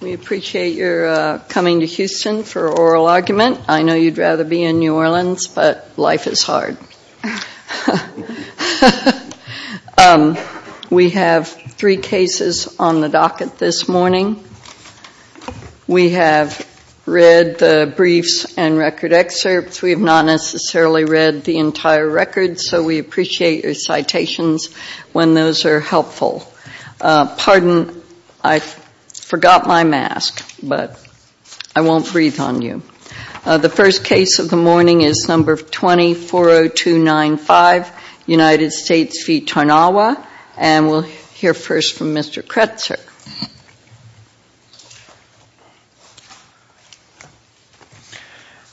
We appreciate your coming to Houston for Oral Argument. I know you'd rather be in New Orleans, but life is hard. We have three cases on the docket this morning. We have read the briefs and record excerpts. We have not necessarily read the entire record, so we appreciate your time. I forgot my mask, but I won't breathe on you. The first case of the morning is number 20-40295, United States v. Tarnawa, and we'll hear first from Mr. Kretzer.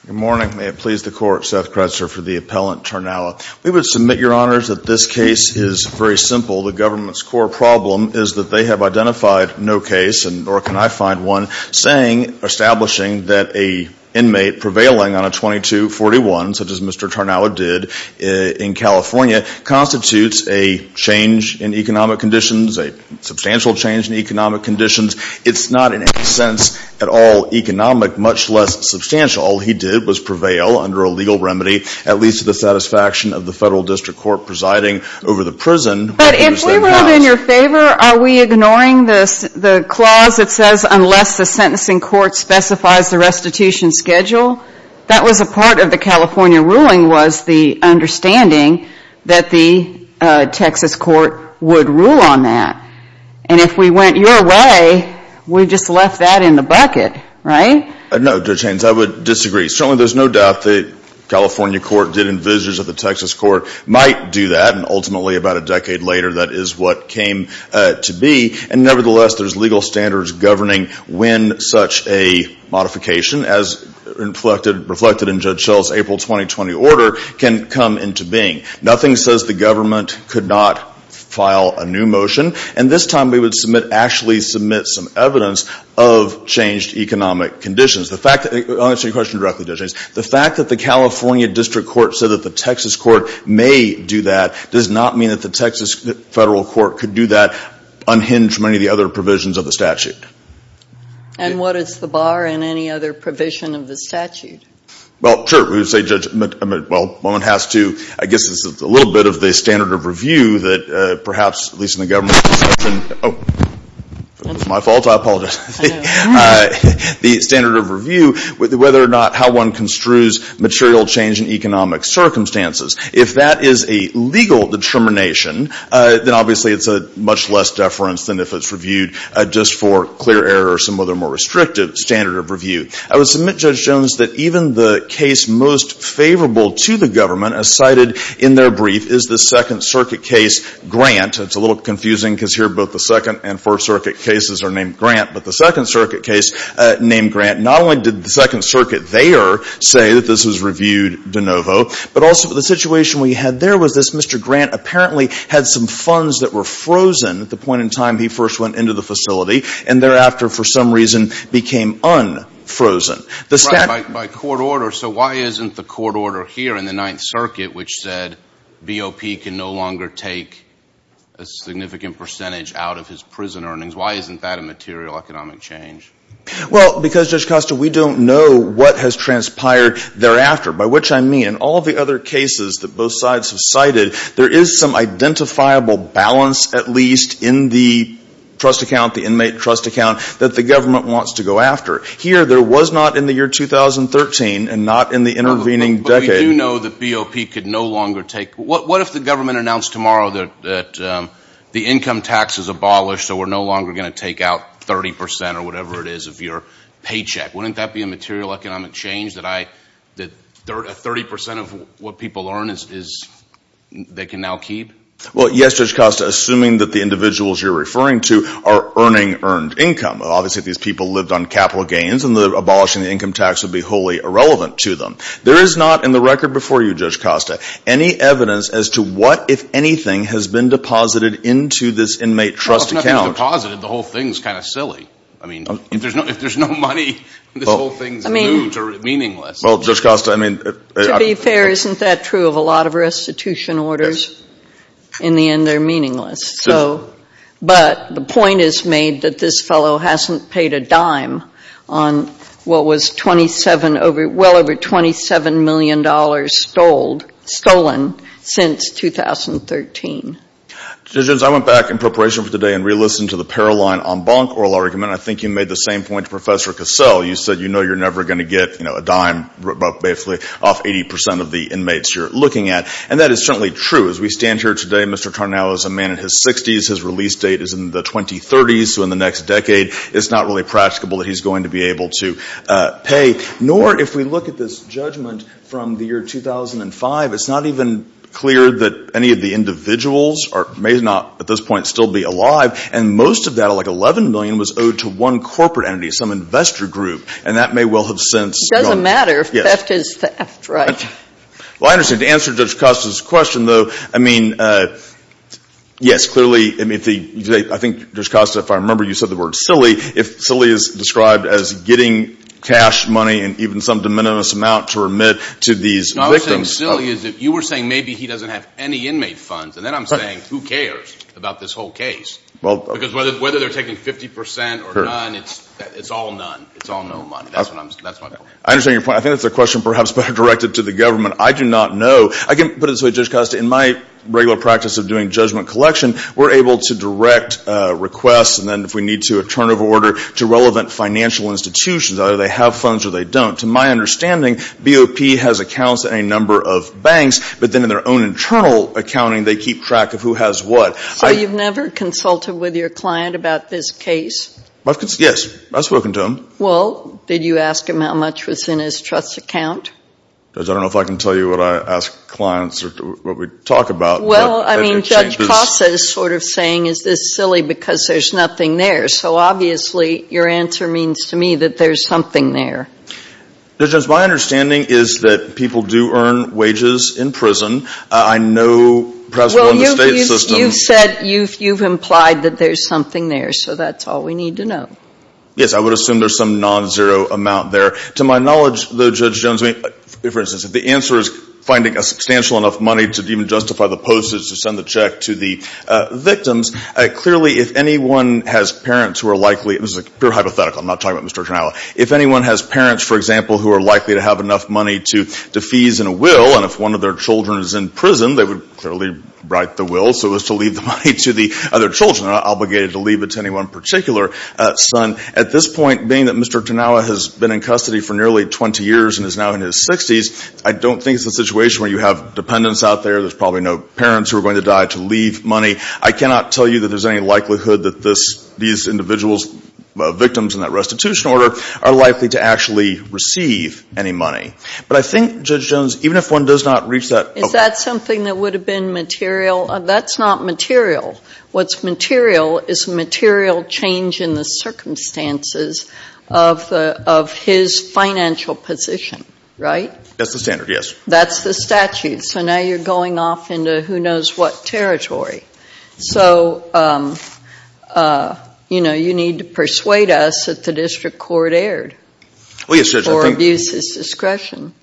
Good morning. May it please the Court, Seth Kretzer for the appellant, Tarnawa. We would submit, Your Honors, that this case is very simple. The government's core problem is that they have identified no case, nor can I find one, establishing that an inmate prevailing on a 22-41, such as Mr. Tarnawa did in California, constitutes a change in economic conditions, a substantial change in economic conditions. It's not in any sense at all economic, much less substantial. All he did was prevail under a legal remedy, at least to the satisfaction of the federal district court presiding over the prison. But if we ruled in your favor, are we ignoring the clause that says, unless the sentencing court specifies the restitution schedule? That was a part of the California ruling, was the understanding that the Texas court would rule on that. And if we went your way, we just left that in the bucket, right? No, Judge Haynes, I would disagree. Certainly there's no doubt that California court did court might do that, and ultimately, about a decade later, that is what came to be. And nevertheless, there's legal standards governing when such a modification, as reflected in Judge Schell's April 2020 order, can come into being. Nothing says the government could not file a new motion. And this time, we would actually submit some evidence of changed economic conditions. I'll answer your question directly, Judge Haynes. The fact that the California district court said that the Texas court may do that does not mean that the Texas federal court could do that unhinged from any of the other provisions of the statute. And what is the bar in any other provision of the statute? Well, sure, we would say, Judge, well, one has to, I guess it's a little bit of the standard of review that perhaps, at least in the government's discretion, oh, it was my fault, I apologize. The standard of review, whether or not how one construes material change in economic circumstances. If that is a legal determination, then obviously it's a much less deference than if it's reviewed just for clear error or some other more restrictive standard of review. I would submit, Judge Jones, that even the case most favorable to the government, as cited in their brief, is the Second Circuit case, Grant. It's a little confusing because here both the Second and First Circuit cases are named Grant, but the Second Circuit case named Grant, not only did the Second Circuit there say that this was reviewed de novo, but also the situation we had there was this, Mr. Grant apparently had some funds that were frozen at the point in time he first went into the facility, and thereafter for some reason became unfrozen. The statute By court order, so why isn't the court order here in the Ninth Circuit which said BOP can no longer take a significant percentage out of his prison earnings, why isn't that a material economic change? Well, because, Judge Costa, we don't know what has transpired thereafter, by which I mean all of the other cases that both sides have cited, there is some identifiable balance at least in the trust account, the inmate trust account that the government wants to go after. Here there was not in the year 2013 and not in the intervening decade. But you do know that BOP could no longer take, what if the government announced tomorrow that the income tax is abolished so we're no longer going to take out 30% or whatever it is of your paycheck, wouldn't that be a material economic change that 30% of what people earn they can now keep? Well, yes, Judge Costa, assuming that the individuals you're referring to are earning earned income, obviously these people lived on capital gains and abolishing the income tax would be wholly irrelevant to them. There is not in the record before you, Judge Costa, any evidence as to what, if anything, has been deposited into this inmate trust account. Well, if nothing's deposited, the whole thing's kind of silly. I mean, if there's no money, this whole thing's new, meaningless. Well, Judge Costa, I mean... To be fair, isn't that true of a lot of restitution orders? In the end they're meaningless. But the point is made that this fellow hasn't paid a dime on what was well over $27 million stolen since 2013. Judge Jones, I went back in preparation for today and re-listened to the Paroline en banc oral argument. I think you made the same point to Professor Cassell. You said you know you're never going to get a dime, basically, off 80% of the inmates you're looking at. And that is certainly true. As we stand here today, Mr. Tarnow is a man in his 60s. His release date is in the 2030s, so in the next decade it's not really practicable that he's going to be able to pay. Nor, if we look at this judgment from the year 2005, it's not even clear that any of the individuals may not at this point still be alive. And most of that, like $11 million, was owed to one corporate entity, some investor group. And that may well have since gone. It doesn't matter. Theft is theft, right? Well, I understand. To answer Judge Costa's question, though, I mean, yes, clearly, I think, Judge Costa, if I remember, you said the word silly. If silly is described as getting cash, money, and even some de minimis amount to remit to these victims. No, I was saying silly is that you were saying maybe he doesn't have any inmate funds. And then I'm saying who cares about this whole case? Because whether they're taking 50% or none, it's all none. It's all no money. That's what I'm saying. I understand your point. I think that's a question perhaps better directed to the government. I do not know. I can put it this way, Judge Costa, in my regular practice of doing judgment collection, we're able to direct requests, and then if we need to, a turnover order, to relevant financial institutions, either they have funds or they don't. To my understanding, BOP has accounts at a number of banks, but then in their own internal accounting, they keep track of who has what. So you've never consulted with your client about this case? Yes. I've spoken to him. Well, did you ask him how much was in his trust account? Judge, I don't know if I can tell you what I ask clients or what we talk about. Well, I mean, Judge Costa is sort of saying, is this silly because there's nothing there? So obviously, your answer means to me that there's something there. Judge, my understanding is that people do earn wages in prison. I know, perhaps, in the state system... Well, you've said, you've implied that there's something there. So that's all we need to know. Yes, I would assume there's some non-zero amount there. To my knowledge, though, Judge Jones, for instance, if the answer is finding a substantial enough money to even justify the postage to send the check to the victims, clearly, if anyone has parents who are likely... This is a pure hypothetical. I'm not talking about Mr. O'Connell. If anyone has parents, for example, who are likely to have enough money to fees and a will, and if one of their children is in prison, they would clearly write the will so as to leave the money to the other children. They're not obligated to leave it to any one particular son. At this point, being that Mr. Tanawa has been in custody for nearly 20 years and is now in his 60s, I don't think it's a situation where you have dependents out there. There's probably no parents who are going to die to leave money. I cannot tell you that there's any likelihood that these individuals, victims in that restitution order, are likely to actually receive any money. But I think, Judge Jones, even if one does not reach that... Is that something that would have been material? That's not material. What's material is material change in the circumstances of his financial position, right? That's the standard, yes. That's the statute. So now you're going off into who knows what territory. So, you know, you need to persuade us that the district court erred... Well, yes, Judge, I think... ...for abuses discretion.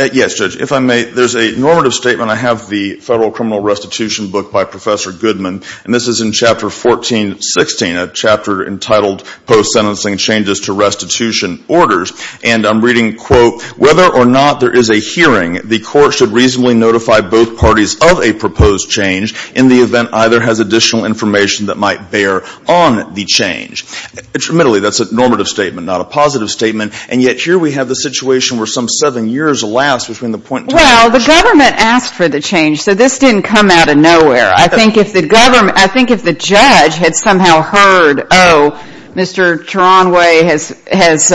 Yes, Judge. If I may, there's a normative statement. I have the Federal Criminal Restitution Book by Professor Goodman, and this is in Chapter 1416, a chapter entitled Post-Sentencing Changes to Restitution Orders. And I'm reading, quote, whether or not there is a hearing, the court should reasonably notify both parties of a proposed change in the event either has additional information that might bear on the change. Admittedly, that's a normative statement, not a positive statement. And yet here we have the situation where some seven years last between the point... Well, the government asked for the change, so this didn't come out of nowhere. I think if the government, I think if the judge had somehow heard, oh, Mr. Turanwe has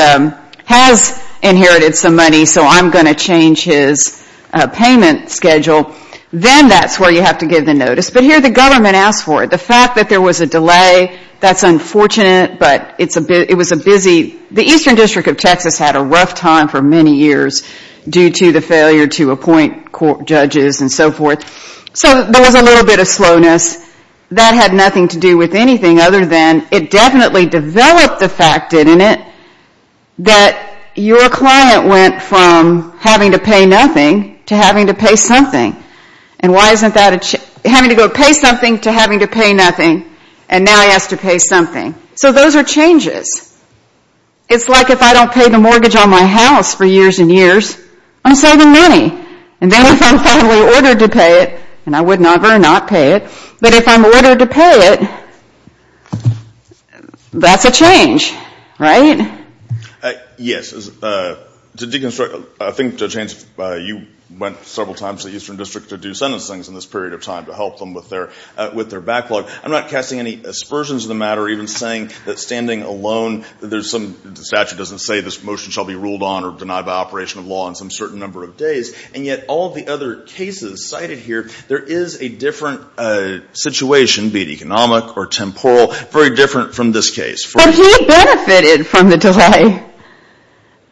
inherited some money, so I'm going to change his payment schedule, then that's where you have to give the notice. But here the government asked for it. The fact that there was a delay, that's unfortunate, but it was a busy... The Eastern District of Texas had a rough time for many years due to the failure to appoint court judges and so forth. So there was a little bit of slowness. That had nothing to do with anything other than it definitely developed the fact, didn't it, that your client went from having to pay nothing to having to pay something. And why isn't that a... Having to go pay something to having to pay nothing, and now he has to pay something. So those are changes. It's like if I don't pay the mortgage on my house for years and years, I'm saving money. And then if I'm finally ordered to pay it, and I would never not pay it, but if I'm ordered to pay it, that's a change, right? Yes. To deconstruct, I think Judge Haynes, you went several times to the Eastern District to do sentencing in this period of time to help them with their backlog. I'm not casting any aspersions to the matter, even saying that standing alone, the statute doesn't say this motion shall be ruled on or denied by operation of law on some certain number of days, and yet all the other cases cited here, there is a different situation, be it economic or temporal, very different from this case. But he benefited from the delay.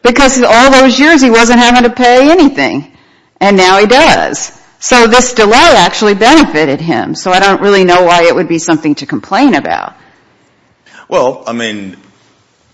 Because all those years he wasn't having to pay anything. And now he does. So this delay actually benefited him. So I don't really know why it would be something to complain about. Well, I mean,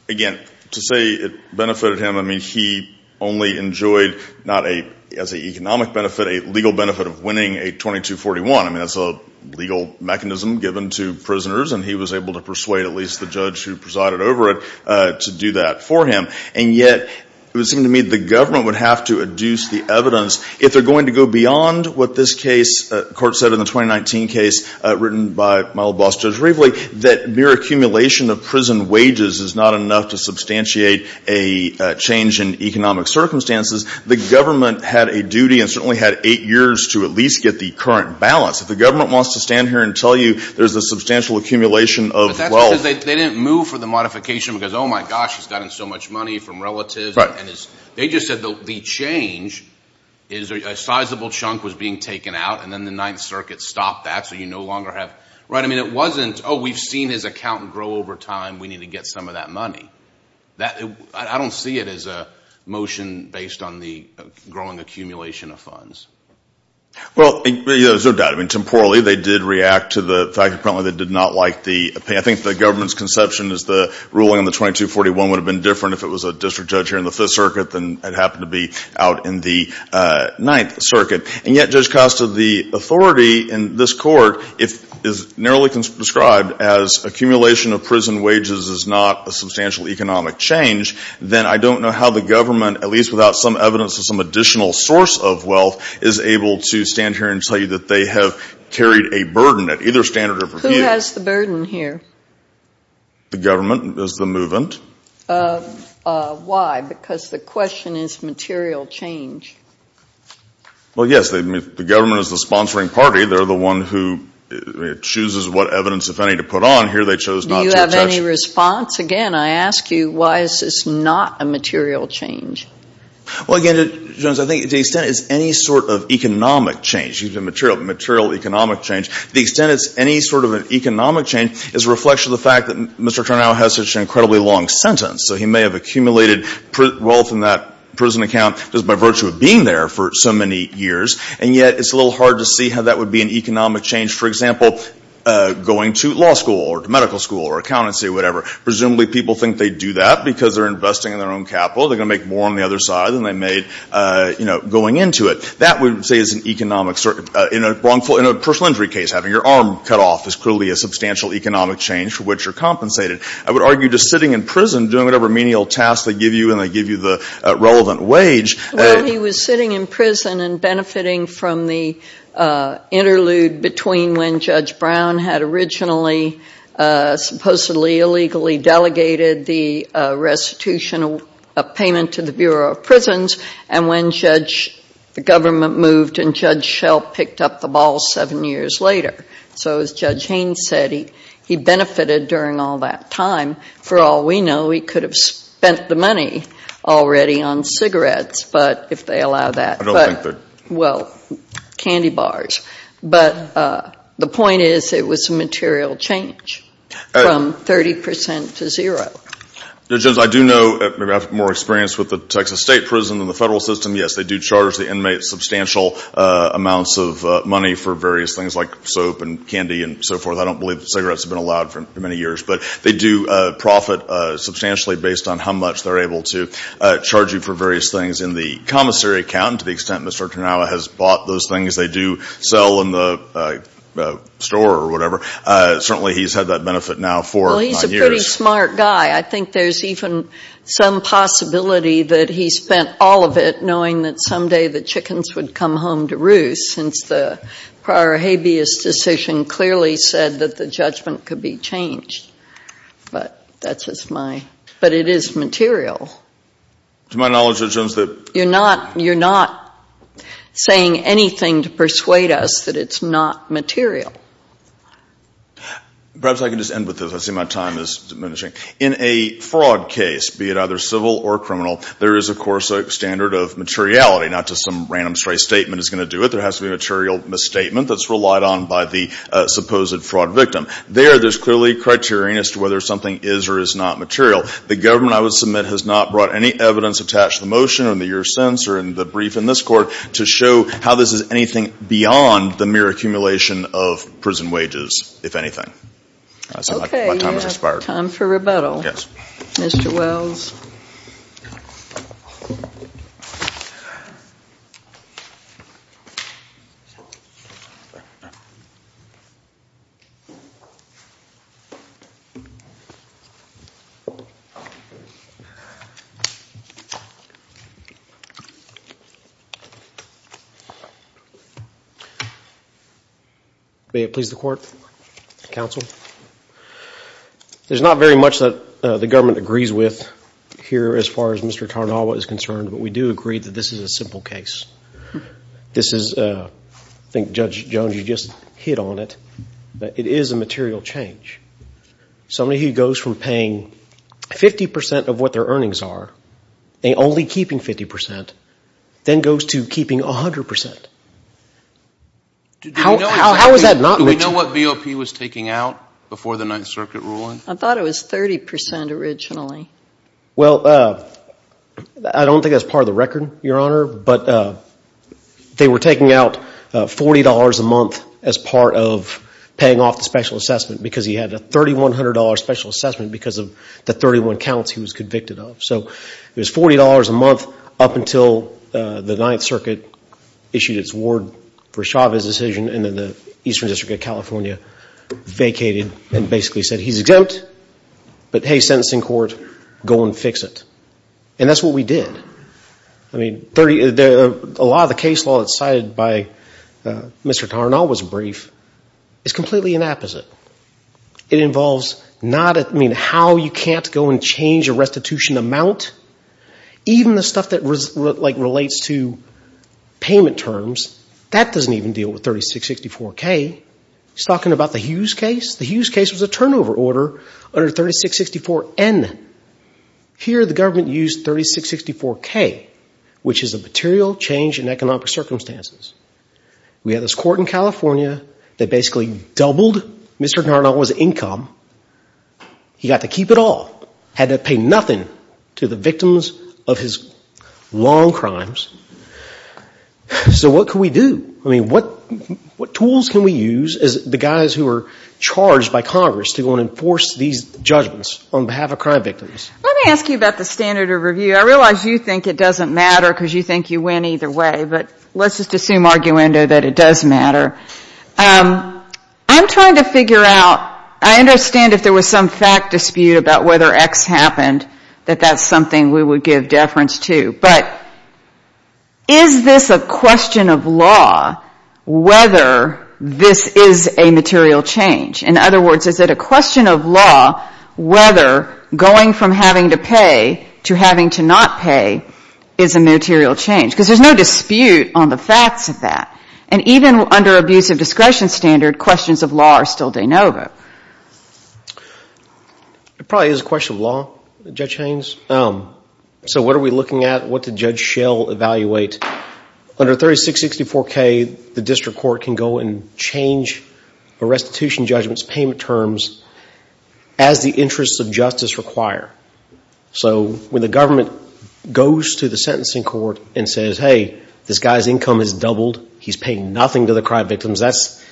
again, to say it benefited him, I mean, he only enjoyed not a, as an economic benefit, a legal benefit of winning a 2241. I mean, that's a legal mechanism given to prisoners, and he was able to persuade at least the judge who presided over it to do that for him. And yet, it would seem to me the government would have to adduce the evidence if they're going to go beyond what this case, the court said in the 2019 case, written by my old boss, Judge Raveley, that mere accumulation of prison wages is not enough to substantiate a change in economic circumstances. The government had a duty and certainly had eight years to at least get the current balance. If the government wants to stand here and tell you there's a substantial accumulation of wealth. But that's because they didn't move for the modification because, oh, my gosh, he's gotten so much money from relatives. Right. And they just said the change is a sizable chunk was being taken out, and then the Ninth Circuit. I mean, it wasn't, oh, we've seen his account grow over time. We need to get some of that money. I don't see it as a motion based on the growing accumulation of funds. Well, there's no doubt. I mean, temporally, they did react to the fact that they did not like the pay. I think the government's conception is the ruling on the 2241 would have been different if it was a district judge here in the Fifth Circuit than it happened to be out in the Ninth Circuit. And yet, Judge Costa, the authority in this court is narrowly described as accumulation of prison wages is not a substantial economic change. Then I don't know how the government, at least without some evidence of some additional source of wealth, is able to stand here and tell you that they have carried a burden at either standard of review. Who has the burden here? The government is the movement. Why? Because the question is material change. Well, yes. The government is the sponsoring party. They're the one who chooses what evidence, if any, to put on here. They chose not to judge. Do you have any response? Again, I ask you, why is this not a material change? Well, again, Judge, I think to the extent it's any sort of economic change, even material economic change, to the extent it's any sort of an economic change is a reflection of the fact that Mr. Trenow has such an incredibly long sentence. So he may have accumulated wealth in that prison account just by virtue of being there for so many years, and yet it's a little hard to see how that would be an economic change. For example, going to law school or to medical school or accountancy or whatever. Presumably people think they do that because they're investing in their own capital. They're going to make more on the other side than they made, you know, going into it. That we would say is an economic – in a wrongful – in a personal injury case, having your arm cut off is clearly a substantial economic change for which you're compensated. I would argue just sitting in prison doing whatever menial tasks they give you and they give you the relevant wage – Well, he was sitting in prison and benefiting from the interlude between when Judge Brown had originally supposedly illegally delegated the restitution payment to the Bureau of Prisons and when Judge – the government moved and Judge Schell picked up the ball seven years later. So as Judge Haynes said, he benefitted during all that time. For all we know, he could have spent the money already on cigarettes, but if they allow that – I don't think they're – Well, candy bars. But the point is it was a material change from 30 percent to zero. Judge, I do know – maybe I have more experience with the Texas State prison than the federal system. I don't believe cigarettes have been allowed for many years, but they do profit substantially based on how much they're able to charge you for various things in the commissary account to the extent Mr. Turnau has bought those things. They do sell in the store or whatever. Certainly he's had that benefit now for nine years. Well, he's a pretty smart guy. I think there's even some possibility that he spent all of it knowing that someday the decision clearly said that the judgment could be changed, but that's just my – but it is material. To my knowledge, Judge Jones, that – You're not – you're not saying anything to persuade us that it's not material. Perhaps I can just end with this. I see my time is diminishing. In a fraud case, be it either civil or criminal, there is, of course, a standard of materiality. Not just some random straight statement is going to do it. There has to be a material misstatement that's relied on by the supposed fraud victim. There, there's clearly a criterion as to whether something is or is not material. The government, I would submit, has not brought any evidence attached to the motion or in the years since or in the brief in this court to show how this is anything beyond the mere accumulation of prison wages, if anything. Okay. My time has expired. Time for rebuttal. Yes. Mr. Wells. May it please the court, counsel? There's not very much that the government agrees with here as far as Mr. Tarnawa is concerned, but we do agree that this is a simple case. This is, I think Judge Jones, you just hit on it, but it is a material change. Somebody who goes from paying 50% of what their earnings are and only keeping 50%, then goes to keeping 100%. Do we know what BOP was taking out before the Ninth Circuit ruling? I thought it was 30% originally. Well, I don't think that's part of the record, Your Honor, but they were taking out $40 a month as part of paying off the special assessment because he had a $3,100 special assessment because of the 31 counts he was convicted of. So it was $40 a month up until the Ninth Circuit issued its word for Chavez's decision, and then the Eastern District of California vacated and basically said he's exempt, but hey, sentencing court, go and fix it. And that's what we did. I mean, a lot of the case law that's cited by Mr. Tarnawa's brief is completely an opposite. It involves how you can't go and change a restitution amount. Even the stuff that relates to payment terms, that doesn't even deal with 3664K. He's talking about the Hughes case. The Hughes case was a turnover order under 3664N. Here the government used 3664K, which is a material change in economic circumstances. We had this court in California that basically doubled Mr. Tarnawa's income. He got to keep it all, had to pay nothing to the victims of his long crimes. So what can we do? I mean, what tools can we use as the guys who are charged by Congress to go and enforce these judgments on behalf of crime victims? Let me ask you about the standard of review. I realize you think it doesn't matter because you think you win either way, but let's just assume arguendo that it does matter. I'm trying to figure out, I understand if there was some fact dispute about whether X happened, that that's something we would give deference to. But is this a question of law whether this is a material change? In other words, is it a question of law whether going from having to pay to having to not pay is a material change? Because there's no dispute on the facts of that. And even under abusive discretion standard, questions of law are still de novo. It probably is a question of law, Judge Haynes. So what are we looking at? What did Judge Schell evaluate? Under 3664K, the district court can go and change a restitution judgment's payment terms as the interests of justice require. So when the government goes to the sentencing court and says, hey, this guy's income has doubled. He's paying nothing to the crime victims. That's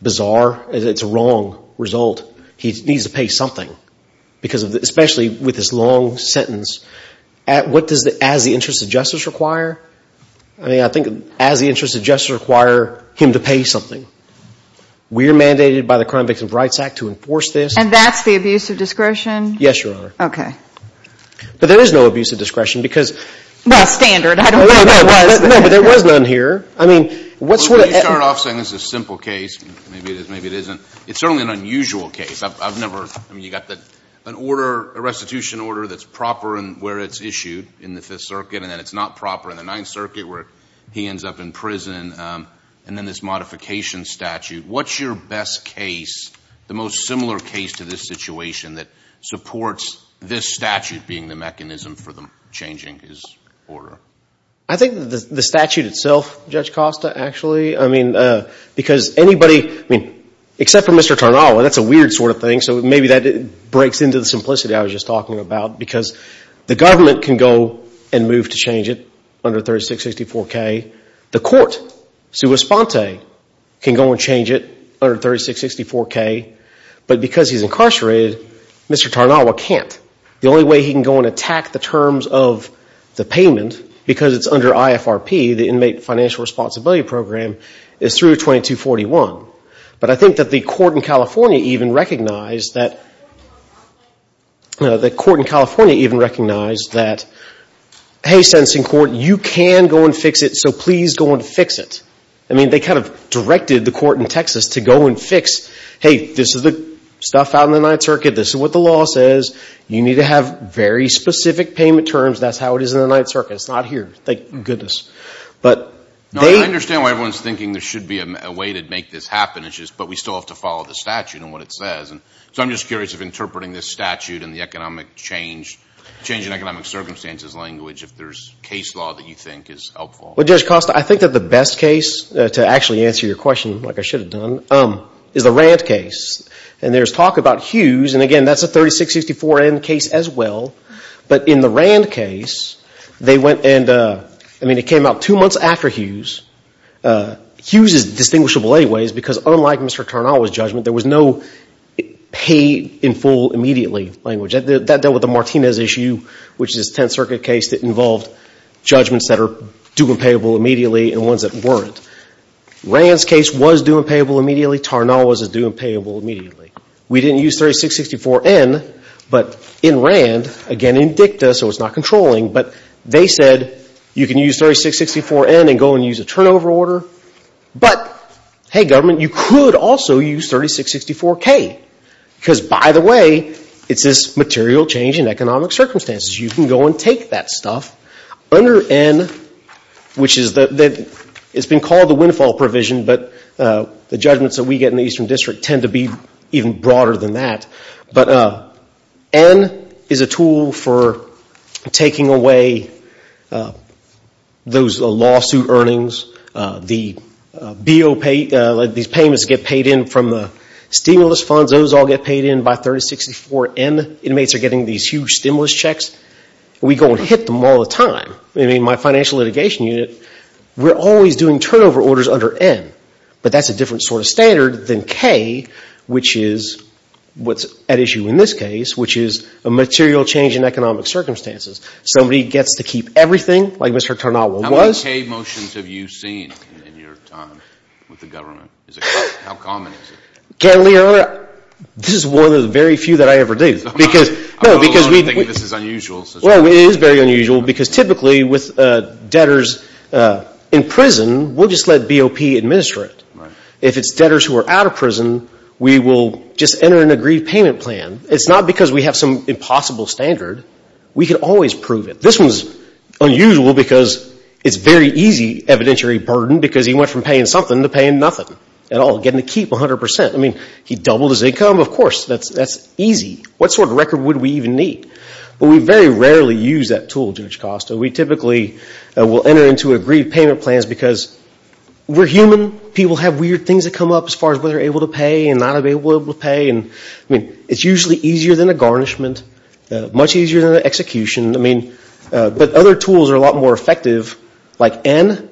bizarre. It's a wrong result. He needs to pay something. Especially with this long sentence. What does the as the interests of justice require? I mean, I think as the interests of justice require him to pay something. We are mandated by the Crime Victims Rights Act to enforce this. And that's the abusive discretion? Yes, Your Honor. Okay. But there is no abusive discretion because. Well, standard. I don't know what that was. No, but there was none here. I mean, what sort of. Well, you start off saying this is a simple case. Maybe it is, maybe it isn't. It's certainly an unusual case. I've never. I mean, you've got an order, a restitution order that's proper in where it's issued in the Fifth Circuit. And then it's not proper in the Ninth Circuit where he ends up in prison. And then this modification statute. What's your best case, the most similar case to this situation that supports this statute being the mechanism for changing his order? I think the statute itself, Judge Costa, actually. I mean, because anybody, I mean, except for Mr. Tarnawa, that's a weird sort of thing. So maybe that breaks into the simplicity I was just talking about. Because the government can go and move to change it under 3664K. The court, sua sponte, can go and change it under 3664K. But because he's incarcerated, Mr. Tarnawa can't. The only way he can go and attack the terms of the payment, because it's under IFRP, the Inmate Financial Responsibility Program, is through 2241. But I think that the court in California even recognized that, hey, sentencing court, you can go and fix it, so please go and fix it. I mean, they kind of directed the court in Texas to go and fix, hey, this is the stuff out in the Ninth Circuit. This is what the law says. You need to have very specific payment terms. That's how it is in the Ninth Circuit. It's not here. Thank goodness. But they ‑‑ No, I understand why everyone's thinking there should be a way to make this happen. It's just, but we still have to follow the statute and what it says. So I'm just curious if interpreting this statute and the economic change, change in economic circumstances language, if there's case law that you think is helpful. Well, Judge Costa, I think that the best case to actually answer your question, like I should have done, is the Rant case. And there's talk about Hughes, and again, that's a 3664N case as well. But in the Rant case, they went and, I mean, it came out two months after Hughes. Hughes is distinguishable anyways because unlike Mr. Tarnawa's judgment, there was no pay in full immediately language. That dealt with the Martinez issue, which is a Tenth Circuit case that involved judgments that are due and payable immediately and ones that weren't. Rant's case was due and payable immediately. Tarnawa's is due and payable immediately. We didn't use 3664N, but in Rant, again, in dicta, so it's not controlling, but they said you can use 3664N and go and use a turnover order. But, hey, government, you could also use 3664K because, by the way, it's this material change in economic circumstances. You can go and take that stuff. Under N, which is the, it's been called the windfall provision, but the judgments that we get in the Eastern District tend to be even broader than that. But N is a tool for taking away those lawsuit earnings. These payments get paid in from the stimulus funds. Those all get paid in by 3664N. Inmates are getting these huge stimulus checks. We go and hit them all the time. I mean, my financial litigation unit, we're always doing turnover orders under N. But that's a different sort of standard than K, which is what's at issue in this case, which is a material change in economic circumstances. Somebody gets to keep everything, like Mr. Tarnawa was. How many K motions have you seen in your time with the government? How common is it? Candidly, Your Honor, this is one of the very few that I ever do. I would also think this is unusual. Well, it is very unusual because typically with debtors in prison, we'll just let BOP administer it. If it's debtors who are out of prison, we will just enter an agreed payment plan. It's not because we have some impossible standard. We can always prove it. This one's unusual because it's very easy evidentiary burden because he went from paying something to paying nothing at all, getting to keep 100%. I mean, he doubled his income. Of course, that's easy. What sort of record would we even need? But we very rarely use that tool, Judge Costa. We typically will enter into agreed payment plans because we're human. People have weird things that come up as far as whether they're able to pay and not able to pay. I mean, it's usually easier than a garnishment, much easier than an execution. I mean, but other tools are a lot more effective, like N.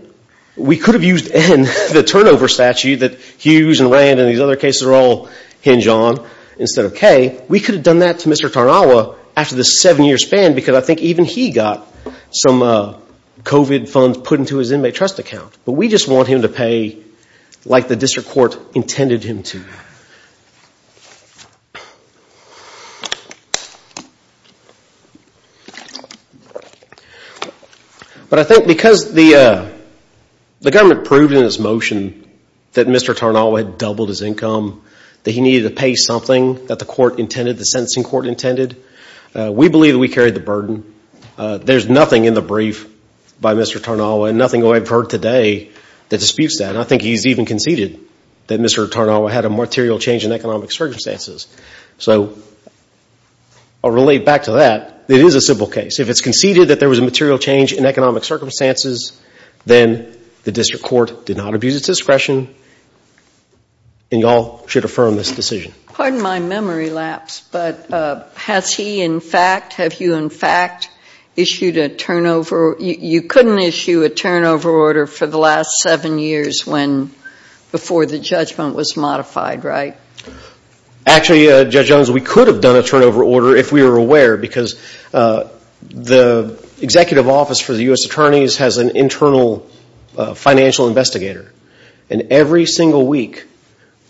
We could have used N, the turnover statute that Hughes and Rand and these other cases are all hinge on, instead of K. We could have done that to Mr. Tarnawa after the seven-year span because I think even he got some COVID funds put into his inmate trust account. But we just want him to pay like the district court intended him to. But I think because the government proved in its motion that Mr. Tarnawa had doubled his income, that he needed to pay something that the court intended, the sentencing court intended, we believe that we carried the burden. There's nothing in the brief by Mr. Tarnawa and nothing I've heard today that disputes that. And I think he's even conceded that Mr. Tarnawa had a material change in economic circumstances. So I'll relate back to that. It is a civil case. If it's conceded that there was a material change in economic circumstances, then the district court did not abuse its discretion. And y'all should affirm this decision. Pardon my memory lapse, but has he in fact, have you in fact issued a turnover? You couldn't issue a turnover order for the last seven years before the judgment was modified, right? Actually, Judge Jones, we could have done a turnover order if we were aware because the executive office for the U.S. attorneys has an internal financial investigator. And every single week,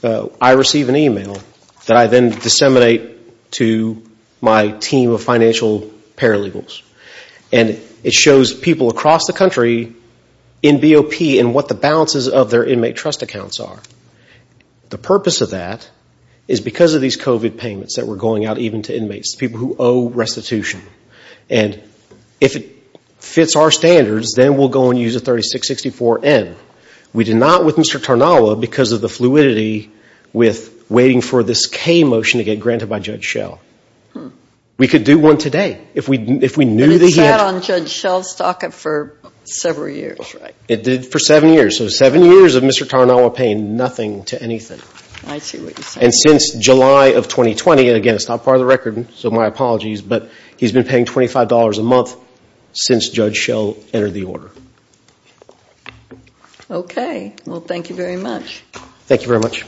I receive an email that I then disseminate to my team of financial paralegals. And it shows people across the country in BOP and what the balances of their inmate trust accounts are. The purpose of that is because of these COVID payments that were going out even to inmates, people who owe restitution. And if it fits our standards, then we'll go and use a 3664-N. We did not with Mr. Tarnawa because of the fluidity with waiting for this K motion to get granted by Judge Schell. We could do one today if we knew the hint. But it sat on Judge Schell's docket for several years, right? It did for seven years. So seven years of Mr. Tarnawa paying nothing to anything. I see what you're saying. And since July of 2020, and again, it's not part of the record, so my apologies. But he's been paying $25 a month since Judge Schell entered the order. Okay. Well, thank you very much. Thank you very much.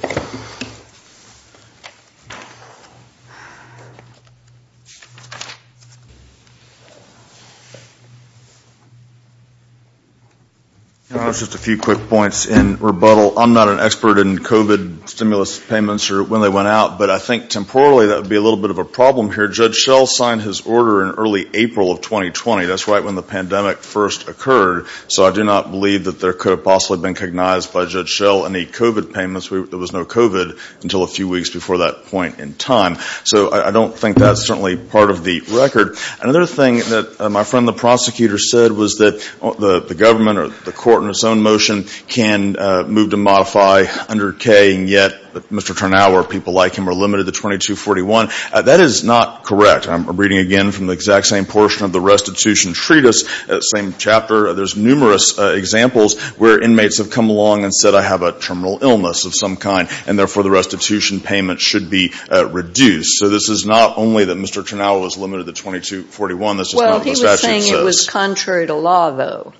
Just a few quick points in rebuttal. I'm not an expert in COVID stimulus payments or when they went out. But I think temporally that would be a little bit of a problem here. Judge Schell signed his order in early April of 2020. That's right when the pandemic first occurred. So I do not believe that there could have possibly been cognized by Judge Schell any COVID payments. There was no COVID until a few weeks before that point in time. So I don't think that's certainly part of the record. Another thing that my friend the prosecutor said was that the government or the court in its own motion can move to modify under K, and yet Mr. Tarnawa or people like him are limited to 2241. That is not correct. I'm reading again from the exact same portion of the restitution treatise, same chapter. There's numerous examples where inmates have come along and said, I have a terminal illness of some kind, and therefore the restitution payment should be reduced. So this is not only that Mr. Tarnawa is limited to 2241. That's just not what the statute says. Well, he was saying it was contrary to law, though.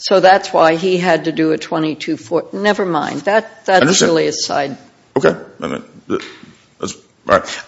So that's why he had to do a 2240. Never mind. That's really a side. Okay. All right.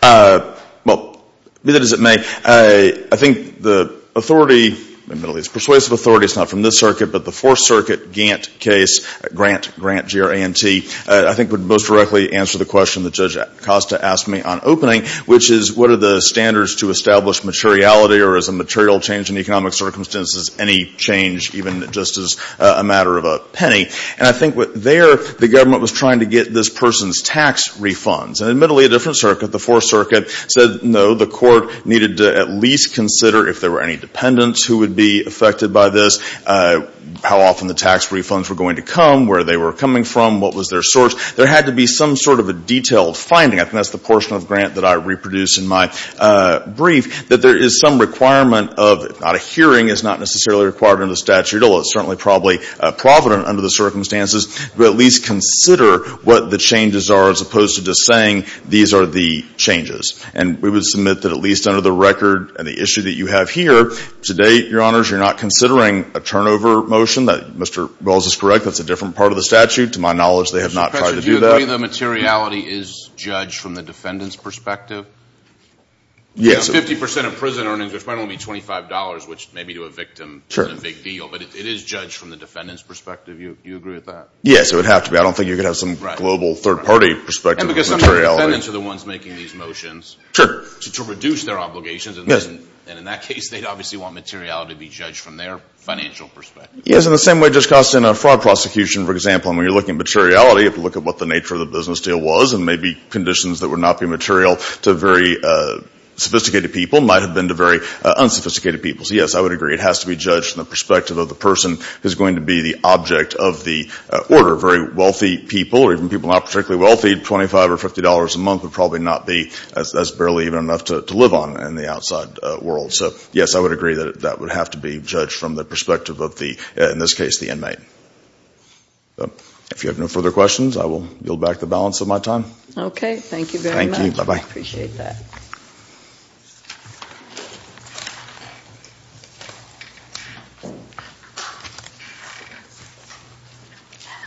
Well, be that as it may, I think the authority in the Middle East, persuasive authority, it's not from this circuit, but the Fourth Circuit, Gantt case, Grant, Grant, G-R-A-N-T, I think would most directly answer the question that Judge Acosta asked me on opening, which is what are the standards to establish materiality, or is a material change in economic circumstances any change, even just as a matter of a penny? And I think there the government was trying to get this person's tax refunds. And admittedly, a different circuit, the Fourth Circuit, said, no, the court needed to at least consider if there were any dependents who would be affected by this, how often the tax refunds were going to come, where they were coming from, what was their source. There had to be some sort of a detailed finding. I think that's the portion of Grant that I reproduced in my brief, that there is some requirement of, not a hearing is not necessarily required under the statute, although it's certainly probably provident under the circumstances, but at least consider what the changes are as opposed to just saying these are the changes. And we would submit that at least under the record and the issue that you have here, to date, Your Honors, you're not considering a turnover motion that, Mr. Wells is correct, that's a different part of the statute. To my knowledge, they have not tried to do that. Mr. Prichard, do you agree that materiality is judged from the defendant's perspective? Yes. Fifty percent of prison earnings, which might only be $25, which maybe to a victim isn't a big deal, but it is judged from the defendant's perspective. Do you agree with that? Yes, it would have to be. I don't think you could have some global third-party perspective of materiality. And because some of the defendants are the ones making these motions to reduce their obligations. And in that case, they'd obviously want materiality to be judged from their financial perspective. Yes, in the same way it just costs in a fraud prosecution, for example, and when you're looking at materiality, you have to look at what the nature of the business deal was and maybe conditions that would not be material to very sophisticated people might have been to very unsophisticated people. So, yes, I would agree. It has to be judged from the perspective of the person who's going to be the object of the order. Very wealthy people, or even people not particularly wealthy, $25 or $50 a month would probably not be, that's barely even enough to live on in the outside world. So, yes, I would agree that that would have to be judged from the perspective of the, in this case, the inmate. If you have no further questions, I will yield back the balance of my time. Okay. Thank you very much. Thank you. Bye-bye. I appreciate that.